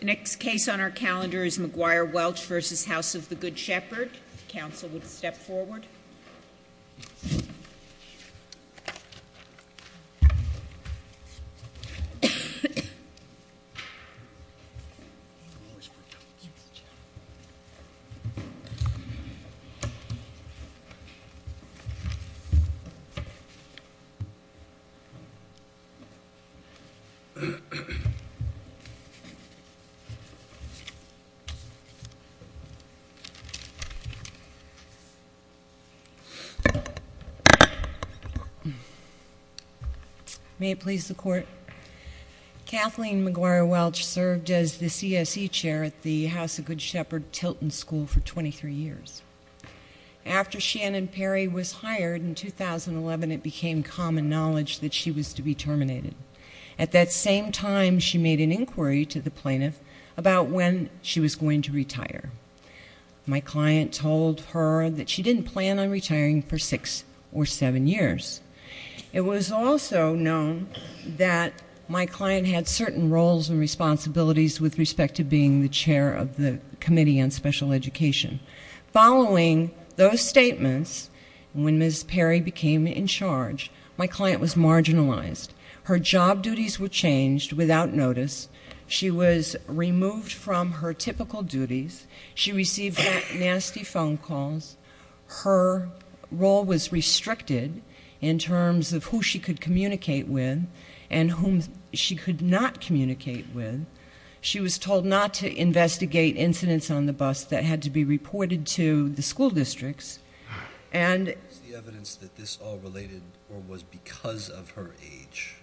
The next case on our calendar is McGuire-Welch v. House of the Good Shepherd. Counsel would step forward. May it please the court. Kathleen McGuire-Welch served as the CSE chair at the House of Good Shepherd Tilton School for 23 years. After Shannon Perry was hired in 2011, it became common knowledge that she was to be terminated. At that same time, she made an inquiry to the plaintiff about when she was going to retire. My client told her that she didn't plan on retiring for six or seven years. It was also known that my client had certain roles and responsibilities with respect to being the chair of the committee on special education. Following those statements, when Ms. Perry became in charge, my client was removed from her typical duties. She received nasty phone calls. Her role was restricted in terms of who she could communicate with and whom she could not communicate with. She was told not to investigate incidents on the bus that had to be reported to the school districts. Was the evidence that this all related or was because of her age?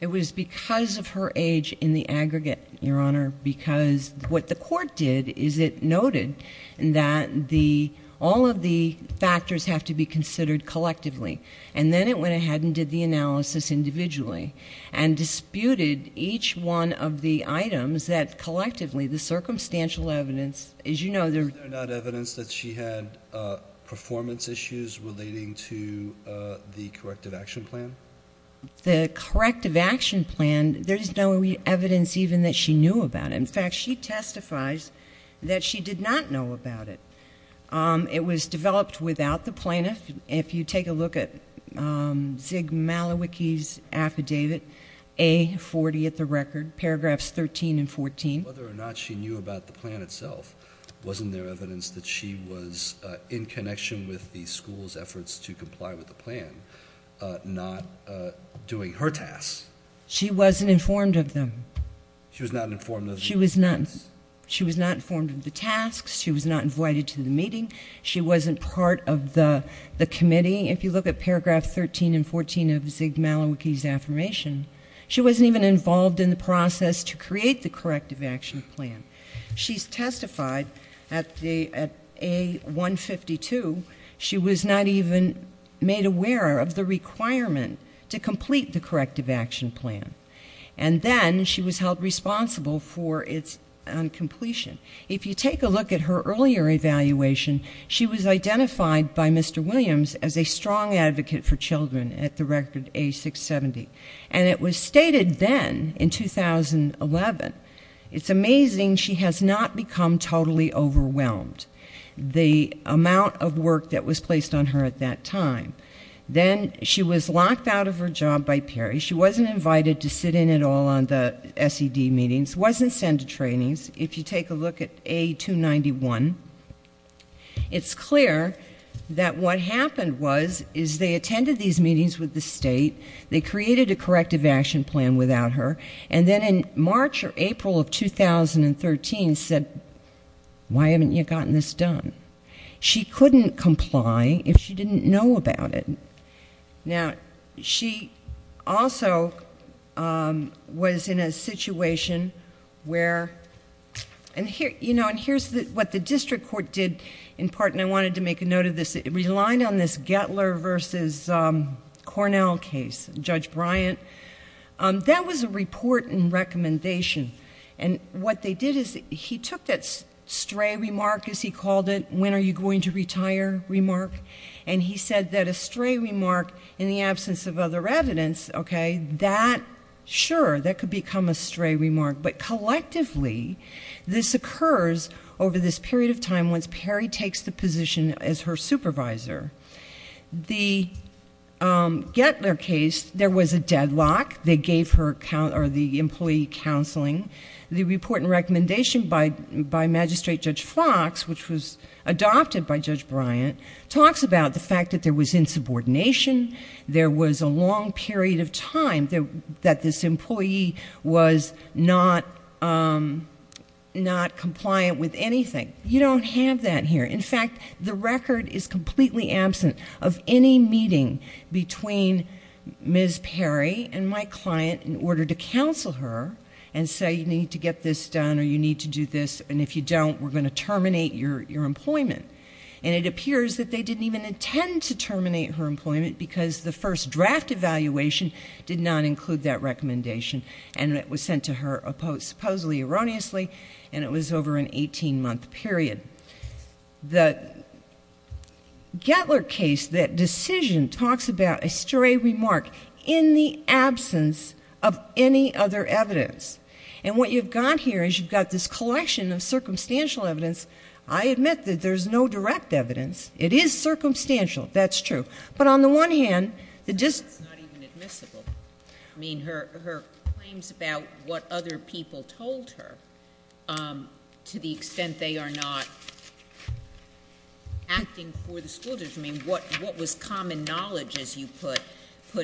It was because of her age in the aggregate, Your Honor, because what the court did is it noted that all of the factors have to be considered collectively. Then it went ahead and did the analysis individually and disputed each one of the items that collectively, the circumstantial evidence, as you know, there... Was there not evidence that she had performance issues relating to the corrective action plan? The corrective action plan, there's no evidence even that she knew about it. In fact, she testifies that she did not know about it. It was developed without the plaintiff. If you take a look at Zig Malowiecki's affidavit, A40 at the record, paragraphs 13 and 14. Whether or not she knew about the plan itself, wasn't there evidence that she was in connection with the school's efforts to comply with the plan, not doing her tasks? She wasn't informed of them. She was not informed of the tasks, she was not invited to the meeting, she wasn't part of the committee. If you look at paragraph 13 and 14 of Zig Malowiecki's affirmation, she wasn't even involved in the process to complete the corrective action plan. She's testified at A152, she was not even made aware of the requirement to complete the corrective action plan. And then she was held responsible for its incompletion. If you take a look at her earlier evaluation, she was identified by Mr. Williams as a strong advocate for children at the record A670. And it was stated then in 2011. It's amazing she has not become totally overwhelmed, the amount of work that was placed on her at that time. Then she was locked out of her job by Perry, she wasn't invited to sit in at all on the SED meetings, wasn't sent to trainings. If you take a look at A291, it's clear that what happened was, is they attended these meetings with the state, they attended these meetings with the state, and then in March or April of 2013 said, why haven't you gotten this done? She couldn't comply if she didn't know about it. Now, she also was in a situation where, and here's what the district court did in part, and I wanted to make a note of this, it relied on this Gettler versus Cornell case, Judge Bryant. That was a report and recommendation. And what they did is, he took that stray remark, as he called it, when are you going to retire remark, and he said that a stray remark in the absence of other evidence, okay, that, sure, that could become a stray remark, but collectively this occurs over this period of time once Perry takes the position as her lock, they gave her, or the employee counseling. The report and recommendation by Magistrate Judge Fox, which was adopted by Judge Bryant, talks about the fact that there was insubordination, there was a long period of time that this employee was not compliant with anything. You don't have that here. In fact, the record is completely absent of any meeting between Ms. Perry and my client in order to counsel her and say, you need to get this done or you need to do this, and if you don't, we're going to terminate your employment. And it appears that they didn't even intend to terminate her employment because the first draft evaluation did not include that recommendation, and it was sent to her supposedly erroneously, and it was over an 18-month period. The Gettler case, that decision, talks about a stray remark in the absence of any other evidence. And what you've got here is you've got this collection of circumstantial evidence. I admit that there's no direct evidence. It is circumstantial, that's true. But on the one hand, the dis- It's not even admissible. I mean, her claims about what other people told her, to the extent that they are not acting for the school district, I mean, what was common knowledge, as you put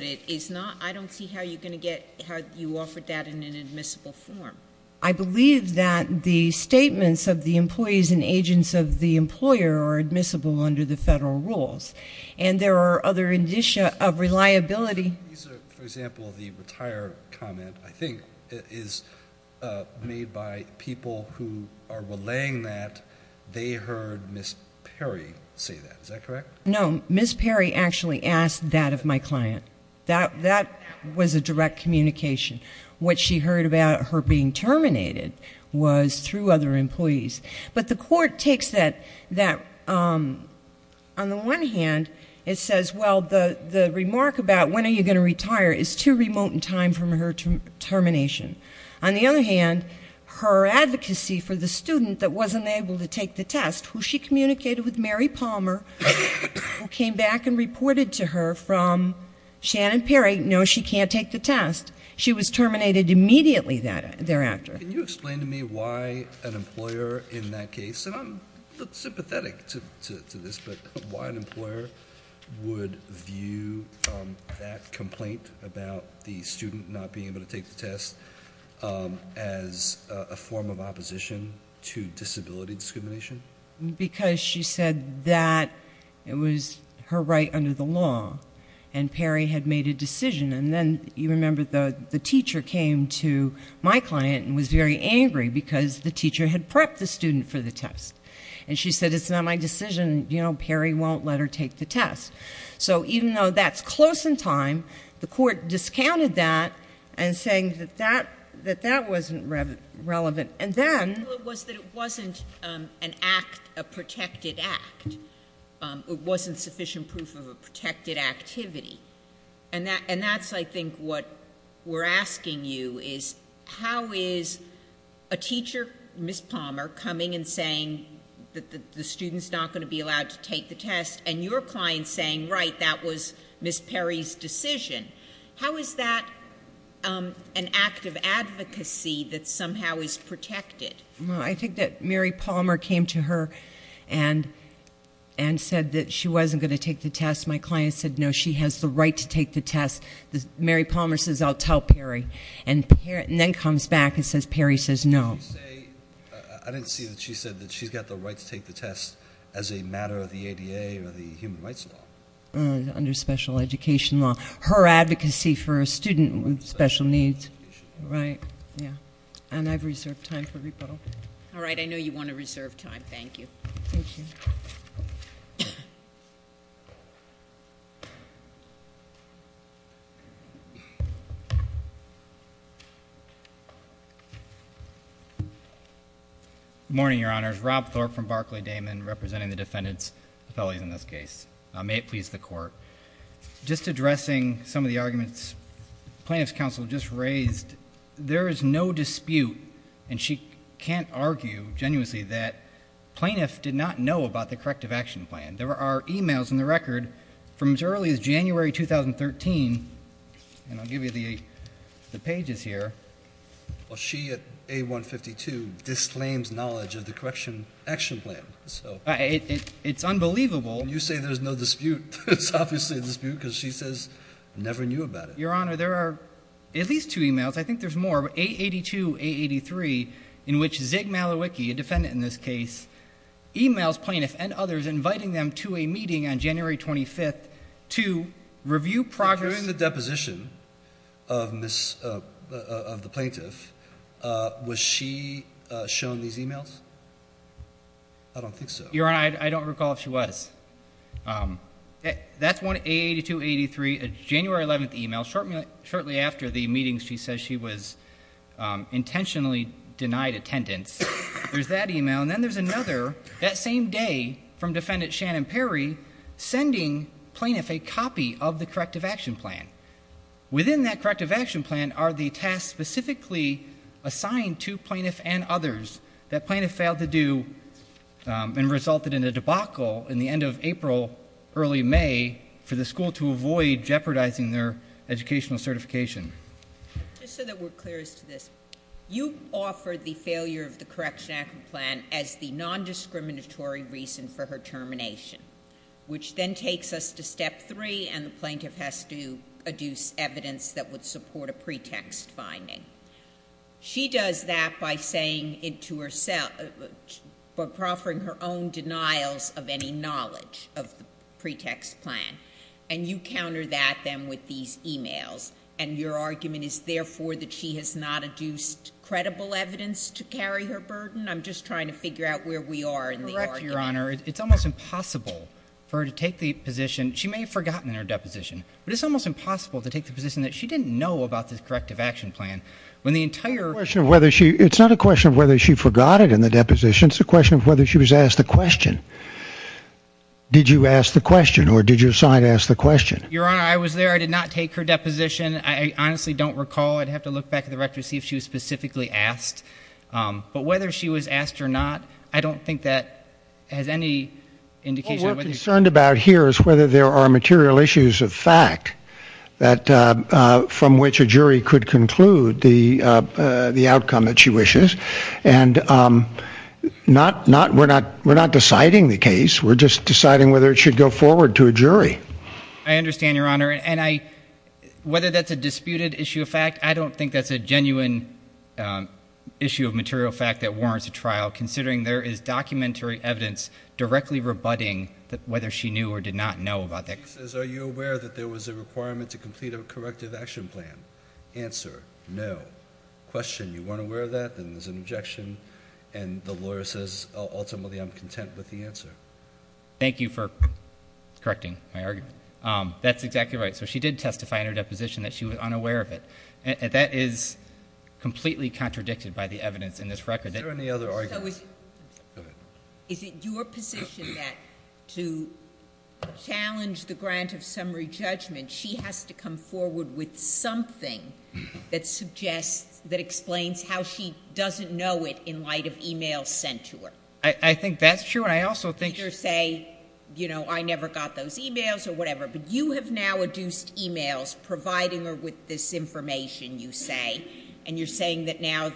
it, is not, I don't see how you're going to get, how you offered that in an admissible form. I believe that the statements of the employees and agents of the employer are admissible under the federal rules. And there are other indicia of reliability- For example, the retire comment, I think, is made by people who are relaying that they heard Ms. Perry say that. Is that correct? No. Ms. Perry actually asked that of my client. That was a direct communication. What she heard about her being terminated was through other employees. But the court takes that, on the one hand, it says, well, the remark about when are you going to retire is too much information. On the other hand, her advocacy for the student that wasn't able to take the test, who she communicated with Mary Palmer, who came back and reported to her from Shannon Perry, no, she can't take the test. She was terminated immediately thereafter. Can you explain to me why an employer in that case, and I'm sympathetic to this, but why an employer would view that complaint about the student not being able to take the test as a form of opposition to disability discrimination? Because she said that it was her right under the law, and Perry had made a decision. And then, you remember, the teacher came to my client and was very angry because the teacher had prepped the student for the test. And she said, it's not my decision. Perry won't let her take the test. So even though that's close in time, the court discounted that, and saying that that wasn't relevant. And then... Well, it was that it wasn't a protected act. It wasn't sufficient proof of a protected activity. And that's, I think, what we're asking you is, how is a teacher, Ms. Palmer, coming and saying that the student's not going to be allowed to take the test, and your client saying, right, that was Ms. Perry's decision, how is that an act of advocacy that somehow is protected? I think that Mary Palmer came to her and said that she wasn't going to take the test. My client said, no, she has the right to take the test. Mary Palmer says, I'll tell Perry. And then comes back and says, Perry says, no. Did she say... I didn't see that she said that she's got the right to take the test as a matter of the ADA or the human rights law. Under special education law. Her advocacy for a student with special needs. Right. Yeah. And I've reserved time for rebuttal. All right. I know you want to reserve time. Thank you. Good morning, Your Honors. Rob Thorpe from Barclay-Damon, representing the defendant's appellate in this case. May it please the Court. Just addressing some of the arguments Plaintiff's Counsel just raised, there is no dispute, and she can't argue, genuinely, that plaintiffs did not know about the corrective action plan. There are e-mails in the record from as early as January 2013, and I'll give you the pages here. Well, she, at A-152, disclaims knowledge of the correction action plan. It's unbelievable. You say there's no dispute. It's obviously a dispute, because she says never knew about it. Your Honor, there are at least two e-mails. I think there's more. A-82, A-83, in which Zig Malowiecki, a defendant in this case, e-mails plaintiffs and others, inviting them to a meeting on January 25th During the deposition of the plaintiff, was she shown these e-mails? I don't think so. Your Honor, I don't recall if she was. That's one, A-82, A-83, a January 11th e-mail. Shortly after the meeting, she says she was intentionally denied attendance. There's that e-mail, and then there's another, that same day, from defendant Shannon Perry, sending plaintiff a copy of the corrective action plan. Within that corrective action plan are the tasks specifically assigned to plaintiff and others that plaintiff failed to do and resulted in a debacle in the end of April, early May, for the school to avoid jeopardizing their educational certification. Just so that we're clear as to this, you offer the failure of the corrective action plan as the nondiscriminatory reason for her termination, which then takes us to step three, and the plaintiff has to adduce evidence that would support a pretext finding. She does that by saying to herself, by proffering her own denials of any knowledge of the pretext plan, and you counter that then with these questions. I'm not asking for evidence to carry her burden. I'm just trying to figure out where we are in the argument. Correct, Your Honor. It's almost impossible for her to take the position, she may have forgotten in her deposition, but it's almost impossible to take the position that she didn't know about this corrective action plan. When the entire... It's not a question of whether she forgot it in the deposition, it's a question of whether she was asked the question. Did you ask the question, or did you decide to ask the question? Your Honor, I was there. I did not take her deposition. I honestly don't recall. I'd have to look back at the record to see if she was specifically asked. But whether she was asked or not, I don't think that has any indication of whether... What we're concerned about here is whether there are material issues of fact from which a jury could conclude the outcome that she wishes. And we're not deciding the case, we're just deciding whether it should go forward to a jury. I understand, Your Honor. And whether that's a disputed issue of fact, I don't think that's a genuine issue of material fact that warrants a trial, considering there is documentary evidence directly rebutting whether she knew or did not know about that. She says, are you aware that there was a requirement to complete a corrective action plan? Answer, no. Question, you weren't aware of that, then there's an objection, and the lawyer says, ultimately I'm content with the answer. Thank you for correcting my argument. That's exactly right. So she did testify in her deposition that she was unaware of it. That is completely contradicted by the evidence in this record. Is there any other argument? Is it your position that to challenge the grant of summary judgment, she has to come forward with something that explains how she doesn't know it in light of emails sent to her? I think that's true, and I also think... Either say, you know, I never got those emails or whatever, but you have now adduced emails providing her with this information, you say, and you're saying that now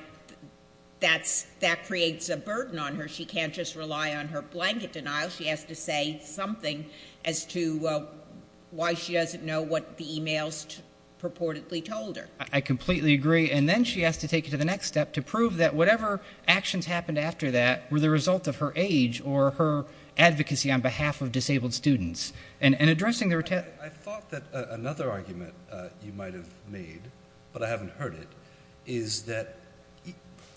that creates a burden on her. She can't just rely on her blanket denial. She has to say something as to why she doesn't know what the emails purportedly told her. I completely agree. And then she has to take it to the next step to prove that whatever actions happened after that were the result of her age or her advocacy on behalf of disabled students. I thought that another argument you might have made, but I haven't heard it, is that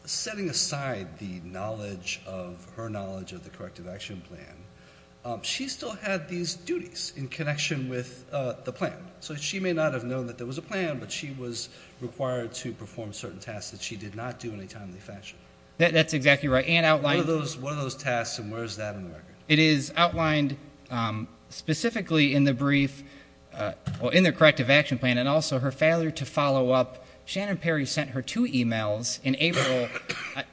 setting aside the knowledge of her knowledge of the corrective action plan, she still had these duties in connection with the plan. So she may not have known that there was a plan, but she was required to perform certain tasks that she did not do in a timely fashion. That's exactly right. One of those tasks, and where is that in the record? It is outlined specifically in the brief, in the corrective action plan, and also her failure to follow up. Shannon Perry sent her two emails in April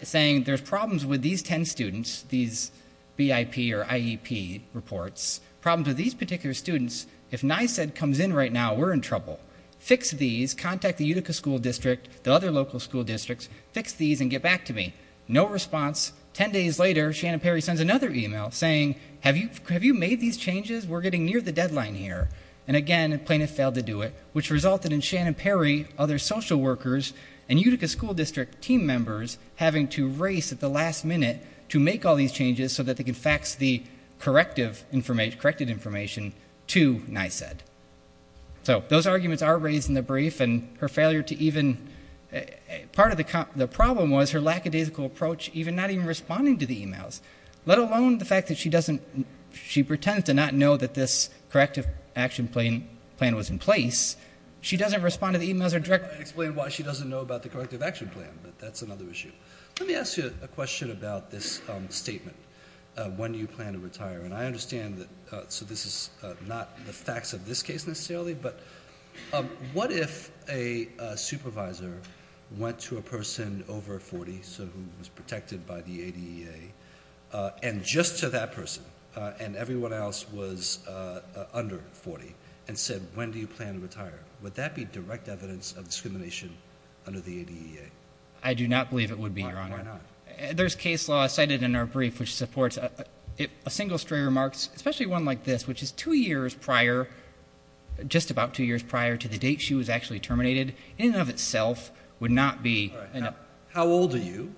saying, there's problems with these ten students, these BIP or IEP reports, problems with these particular students. If NYSED comes in right now, we're in trouble. Fix these, contact the Utica School District, the other local school districts, fix these and get back to me. No response. Ten days later, Shannon Perry sends another email saying, have you made these changes? We're getting near the deadline here. And again, plaintiff failed to do it, which resulted in Shannon Perry, other social workers, and Utica School District team members having to race at the last minute to make all these changes so that they could fax the corrective information to NYSED. So, those arguments are raised in the brief, and her failure to even, part of the problem was her lackadaisical approach, even not even responding to the emails, let alone the fact that she pretends to not know that this corrective action plan was in place. She doesn't respond to the emails or directly. I can explain why she doesn't know about the corrective action plan, but that's another issue. Let me ask you a question about this statement. When do you plan to retire? And I understand that, so this is not the facts of this case necessarily, but what if a supervisor went to a person over 40, so who was protected by the ADEA, and just to that person, and everyone else was under 40, and said, when do you plan to retire? Would that be direct evidence of discrimination under the ADEA? I do not believe it would be, Your Honor. Why not? There's case law cited in our brief, which supports a single stray remark, especially one like this, which is two years prior, just about two years prior to the date she was actually terminated, in and of itself would not be. How old are you,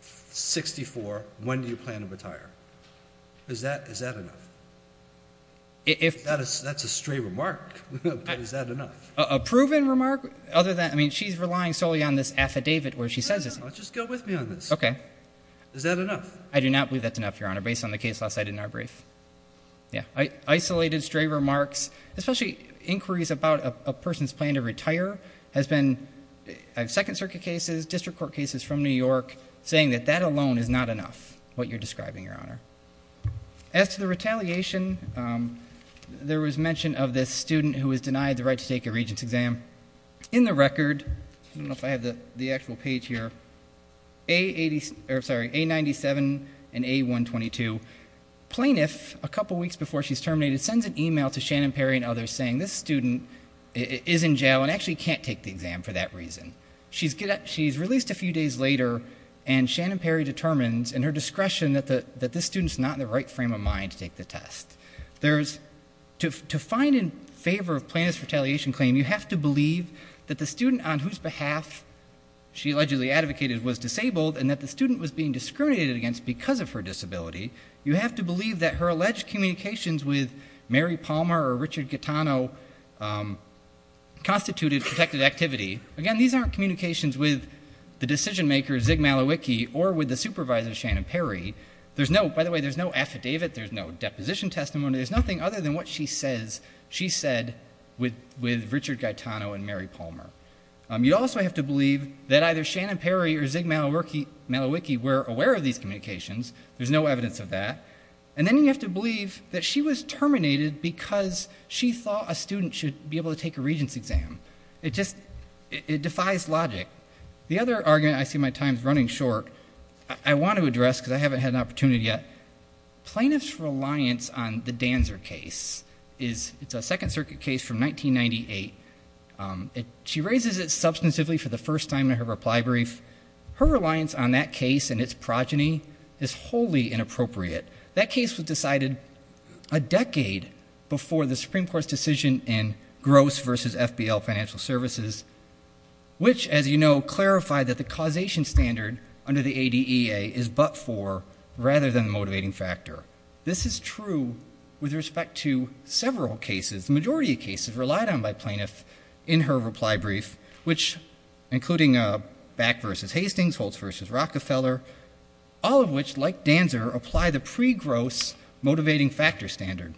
64, when do you plan to retire? Is that enough? That's a stray remark, but is that enough? A proven remark, other than, I mean, she's relying solely on this affidavit where she says this. No, just go with me on this. Is that enough? I do not believe that's enough, Your Honor, based on the case law cited in our brief. Isolated stray remarks, especially inquiries about a person's plan to retire, has been in Second Circuit cases, district court cases from New York, saying that that alone is not enough, what you're describing, Your Honor. As to the retaliation, there was mention of this student who was denied the right to take a regent's exam. In the record, I don't know if I have the actual page here, A97 and A122, plaintiff, a couple weeks before she's terminated, sends an email to Shannon Perry and others saying this student is in jail and actually can't take the exam for that reason. She's released a few days later, and Shannon Perry determines in her discretion that this student's not in the right frame of mind to take the test. There's, to find in favor of plaintiff's retaliation claim, you have to believe that the student on whose behalf she allegedly advocated was disabled and that the student was being discriminated against because of her disability. You have to believe that her alleged communications with Mary Palmer or Richard Gattano constituted protected activity. Again, these aren't communications with the decision-maker, Zig Malowiecki, or with the supervisor, Shannon Perry. By the way, there's no affidavit, there's no deposition testimony, there's nothing other than what she said with Richard Gattano and Mary Palmer. You also have to believe that either Shannon Perry or Zig Malowiecki were aware of these communications, there's no evidence of that, and then you have to believe that she was terminated because she thought a student should be able to take a regent's exam. It defies logic. The other argument, I see my time's running short, I want to address because I haven't had an opportunity yet. Plaintiff's reliance on the Danzer case is, it's a Second Circuit case from 1998. She raises it substantively for the first time in her reply brief. Her reliance on that case and its progeny is wholly inappropriate. That case was decided a decade before the Supreme Court's decision in Gross v. FBL Financial Services, which, as you know, clarified that the causation standard under the ADEA is but for, rather than the motivating factor. This is true with respect to several cases, the majority of cases relied on by plaintiff in her reply brief, which including Back v. Hastings, Holtz v. Rockefeller, all of which, like Danzer, apply the pre-Gross motivating factor standard.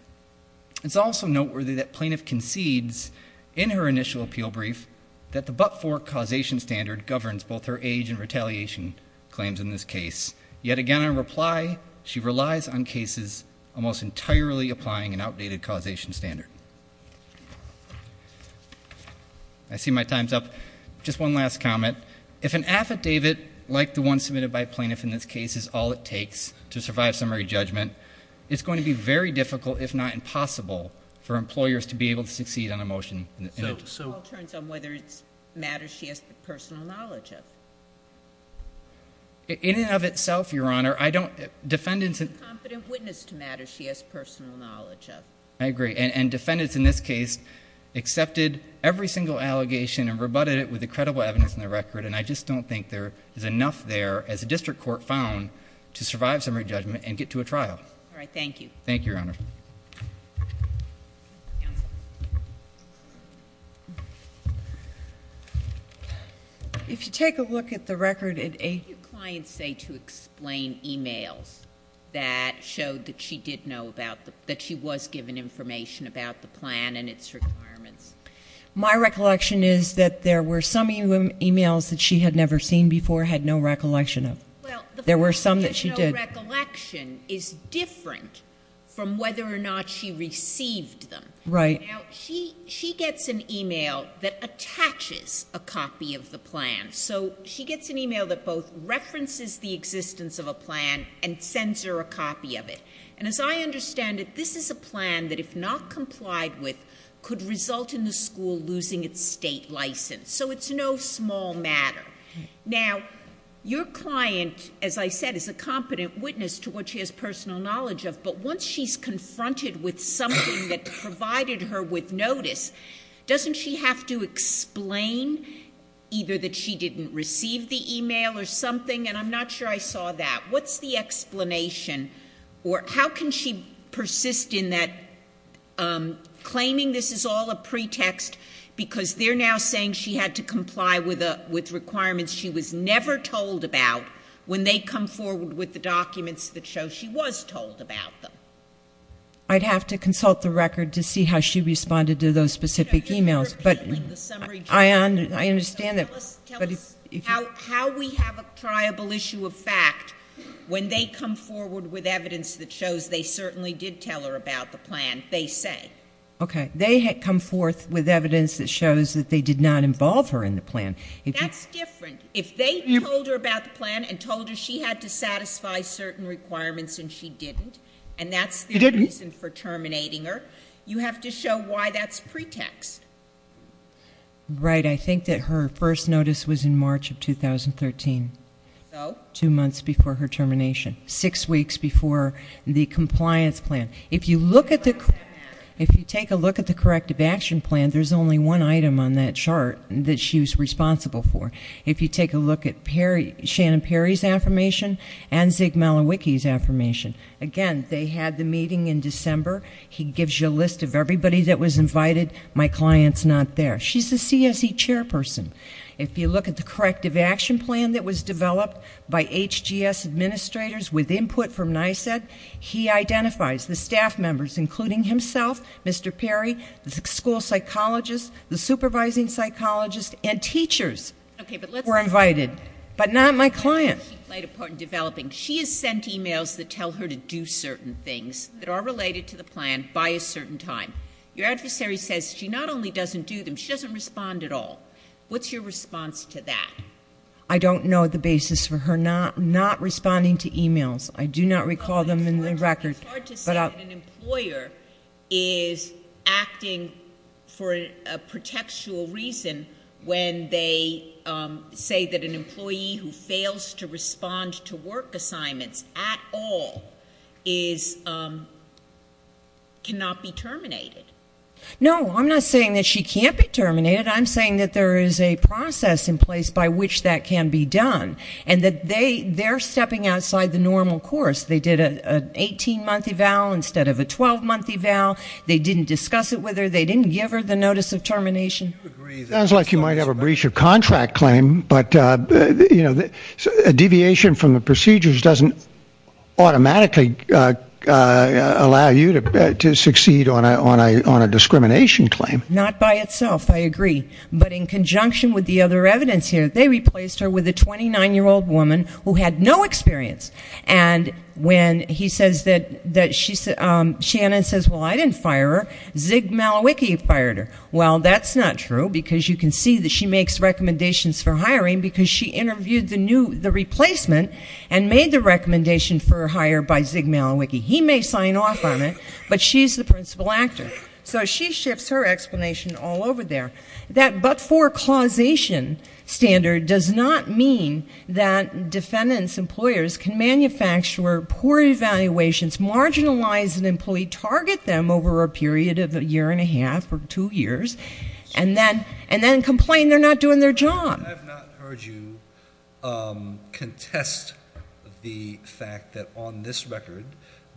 It's also noteworthy that plaintiff concedes in her initial appeal brief that the but-for causation standard governs both her age and retaliation claims in this case, yet again in reply, she relies on cases almost entirely applying an outdated causation standard. I see my time's up. Just one last comment. If an affidavit, like the one submitted by plaintiff in this case, is all it takes to for employers to be able to succeed on a motion in it. So it all turns on whether it's matters she has personal knowledge of. In and of itself, Your Honor, I don't, defendants and She's a competent witness to matters she has personal knowledge of. I agree. And defendants in this case accepted every single allegation and rebutted it with the credible evidence in the record, and I just don't think there is enough there, as a district court found, to survive summary judgment and get to a trial. All right. Thank you. Thank you, Your Honor. Counsel. If you take a look at the record, it a What did your client say to explain e-mails that showed that she did know about the, that she was given information about the plan and its requirements? My recollection is that there were some e-mails that she had never seen before, had no recollection of. There were some that she did. My recollection is different from whether or not she received them. Right. Now, she gets an e-mail that attaches a copy of the plan. So she gets an e-mail that both references the existence of a plan and sends her a copy of it. And as I understand it, this is a plan that, if not complied with, could result in the school losing its state license. So it's no small matter. Now, your client, as I said, is a competent witness to what she has personal knowledge of. But once she's confronted with something that provided her with notice, doesn't she have to explain either that she didn't receive the e-mail or something? And I'm not sure I saw that. What's the explanation? Or how can she persist in that, claiming this is all a pretext because they're now saying she had to comply with requirements she was never told about when they come forward with the documents that show she was told about them? I'd have to consult the record to see how she responded to those specific e-mails. But I understand that. How we have a triable issue of fact, when they come forward with evidence that shows they certainly did tell her about the plan, they say. Okay. They had come forth with evidence that shows that they did not involve her in the plan. That's different. If they told her about the plan and told her she had to satisfy certain requirements and she didn't, and that's the reason for terminating her, you have to show why that's pretext. Right. I think that her first notice was in March of 2013, two months before her termination, six weeks before the compliance plan. If you look at the, if you take a look at the corrective action plan, there's only one item on that chart that she was responsible for. If you take a look at Shannon Perry's affirmation and Zig Malinwiki's affirmation, again, they had the meeting in December, he gives you a list of everybody that was invited, my client's not there. She's the CSE chairperson. If you look at the corrective action plan that was developed by HGS administrators with input from NYSED, he identifies the staff members, including himself, Mr. Perry, the school psychologist, the supervising psychologist, and teachers were invited, but not my client. She has sent emails that tell her to do certain things that are related to the plan by a certain time. Your adversary says she not only doesn't do them, she doesn't respond at all. What's your response to that? I don't know the basis for her not responding to emails. I do not recall them in the record. It's hard to say that an employer is acting for a pretextual reason when they say that an employee who fails to respond to work assignments at all is, cannot be terminated. No, I'm not saying that she can't be terminated. I'm saying that there is a process in place by which that can be done, and that they're stepping outside the normal course. They did an 18-month eval instead of a 12-month eval. They didn't discuss it with her. They didn't give her the notice of termination. It sounds like you might have a breach of contract claim, but a deviation from the procedures doesn't automatically allow you to succeed on a discrimination claim. Not by itself. I agree. But in conjunction with the other evidence here, they replaced her with a 29-year-old woman who had no experience. And when he says that, Shannon says, well, I didn't fire her. Zig Malowiecki fired her. Well, that's not true, because you can see that she makes recommendations for hiring because she interviewed the replacement and made the recommendation for hire by Zig Malowiecki. He may sign off on it, but she's the principal actor. So she shifts her explanation all over there. That but-for-causation standard does not mean that defendants' employers can manufacture poor evaluations, marginalize an employee, target them over a period of a year and a half or two years, and then complain they're not doing their job. I have not heard you contest the fact that on this record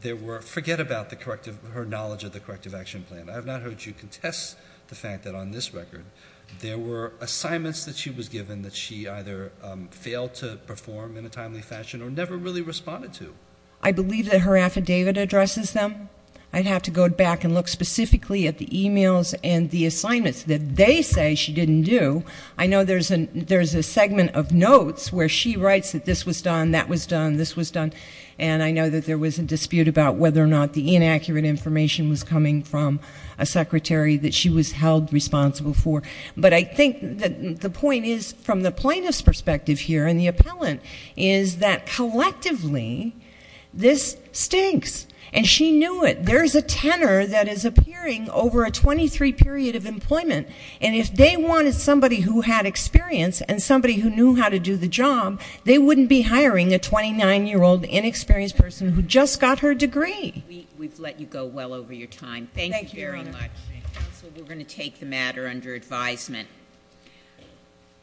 there were—forget about her knowledge of the Corrective Action Plan—I have not heard you contest the fact that on this record there were assignments that she was given that she either failed to perform in a timely fashion or never really responded to. I believe that her affidavit addresses them. I'd have to go back and look specifically at the e-mails and the assignments that they say she didn't do. I know there's a segment of notes where she writes that this was done, that was done, this was done. And I know that there was a dispute about whether or not the inaccurate information was coming from a secretary that she was held responsible for. But I think that the point is, from the plaintiff's perspective here and the appellant, is that collectively this stinks. And she knew it. There's a tenor that is appearing over a 23-period of employment, and if they wanted somebody who had experience and somebody who knew how to do the job, they wouldn't be hiring a 29-year-old inexperienced person who just got her degree. We've let you go well over your time. Thank you, Your Honor. Counsel, we're going to take the matter under advisement.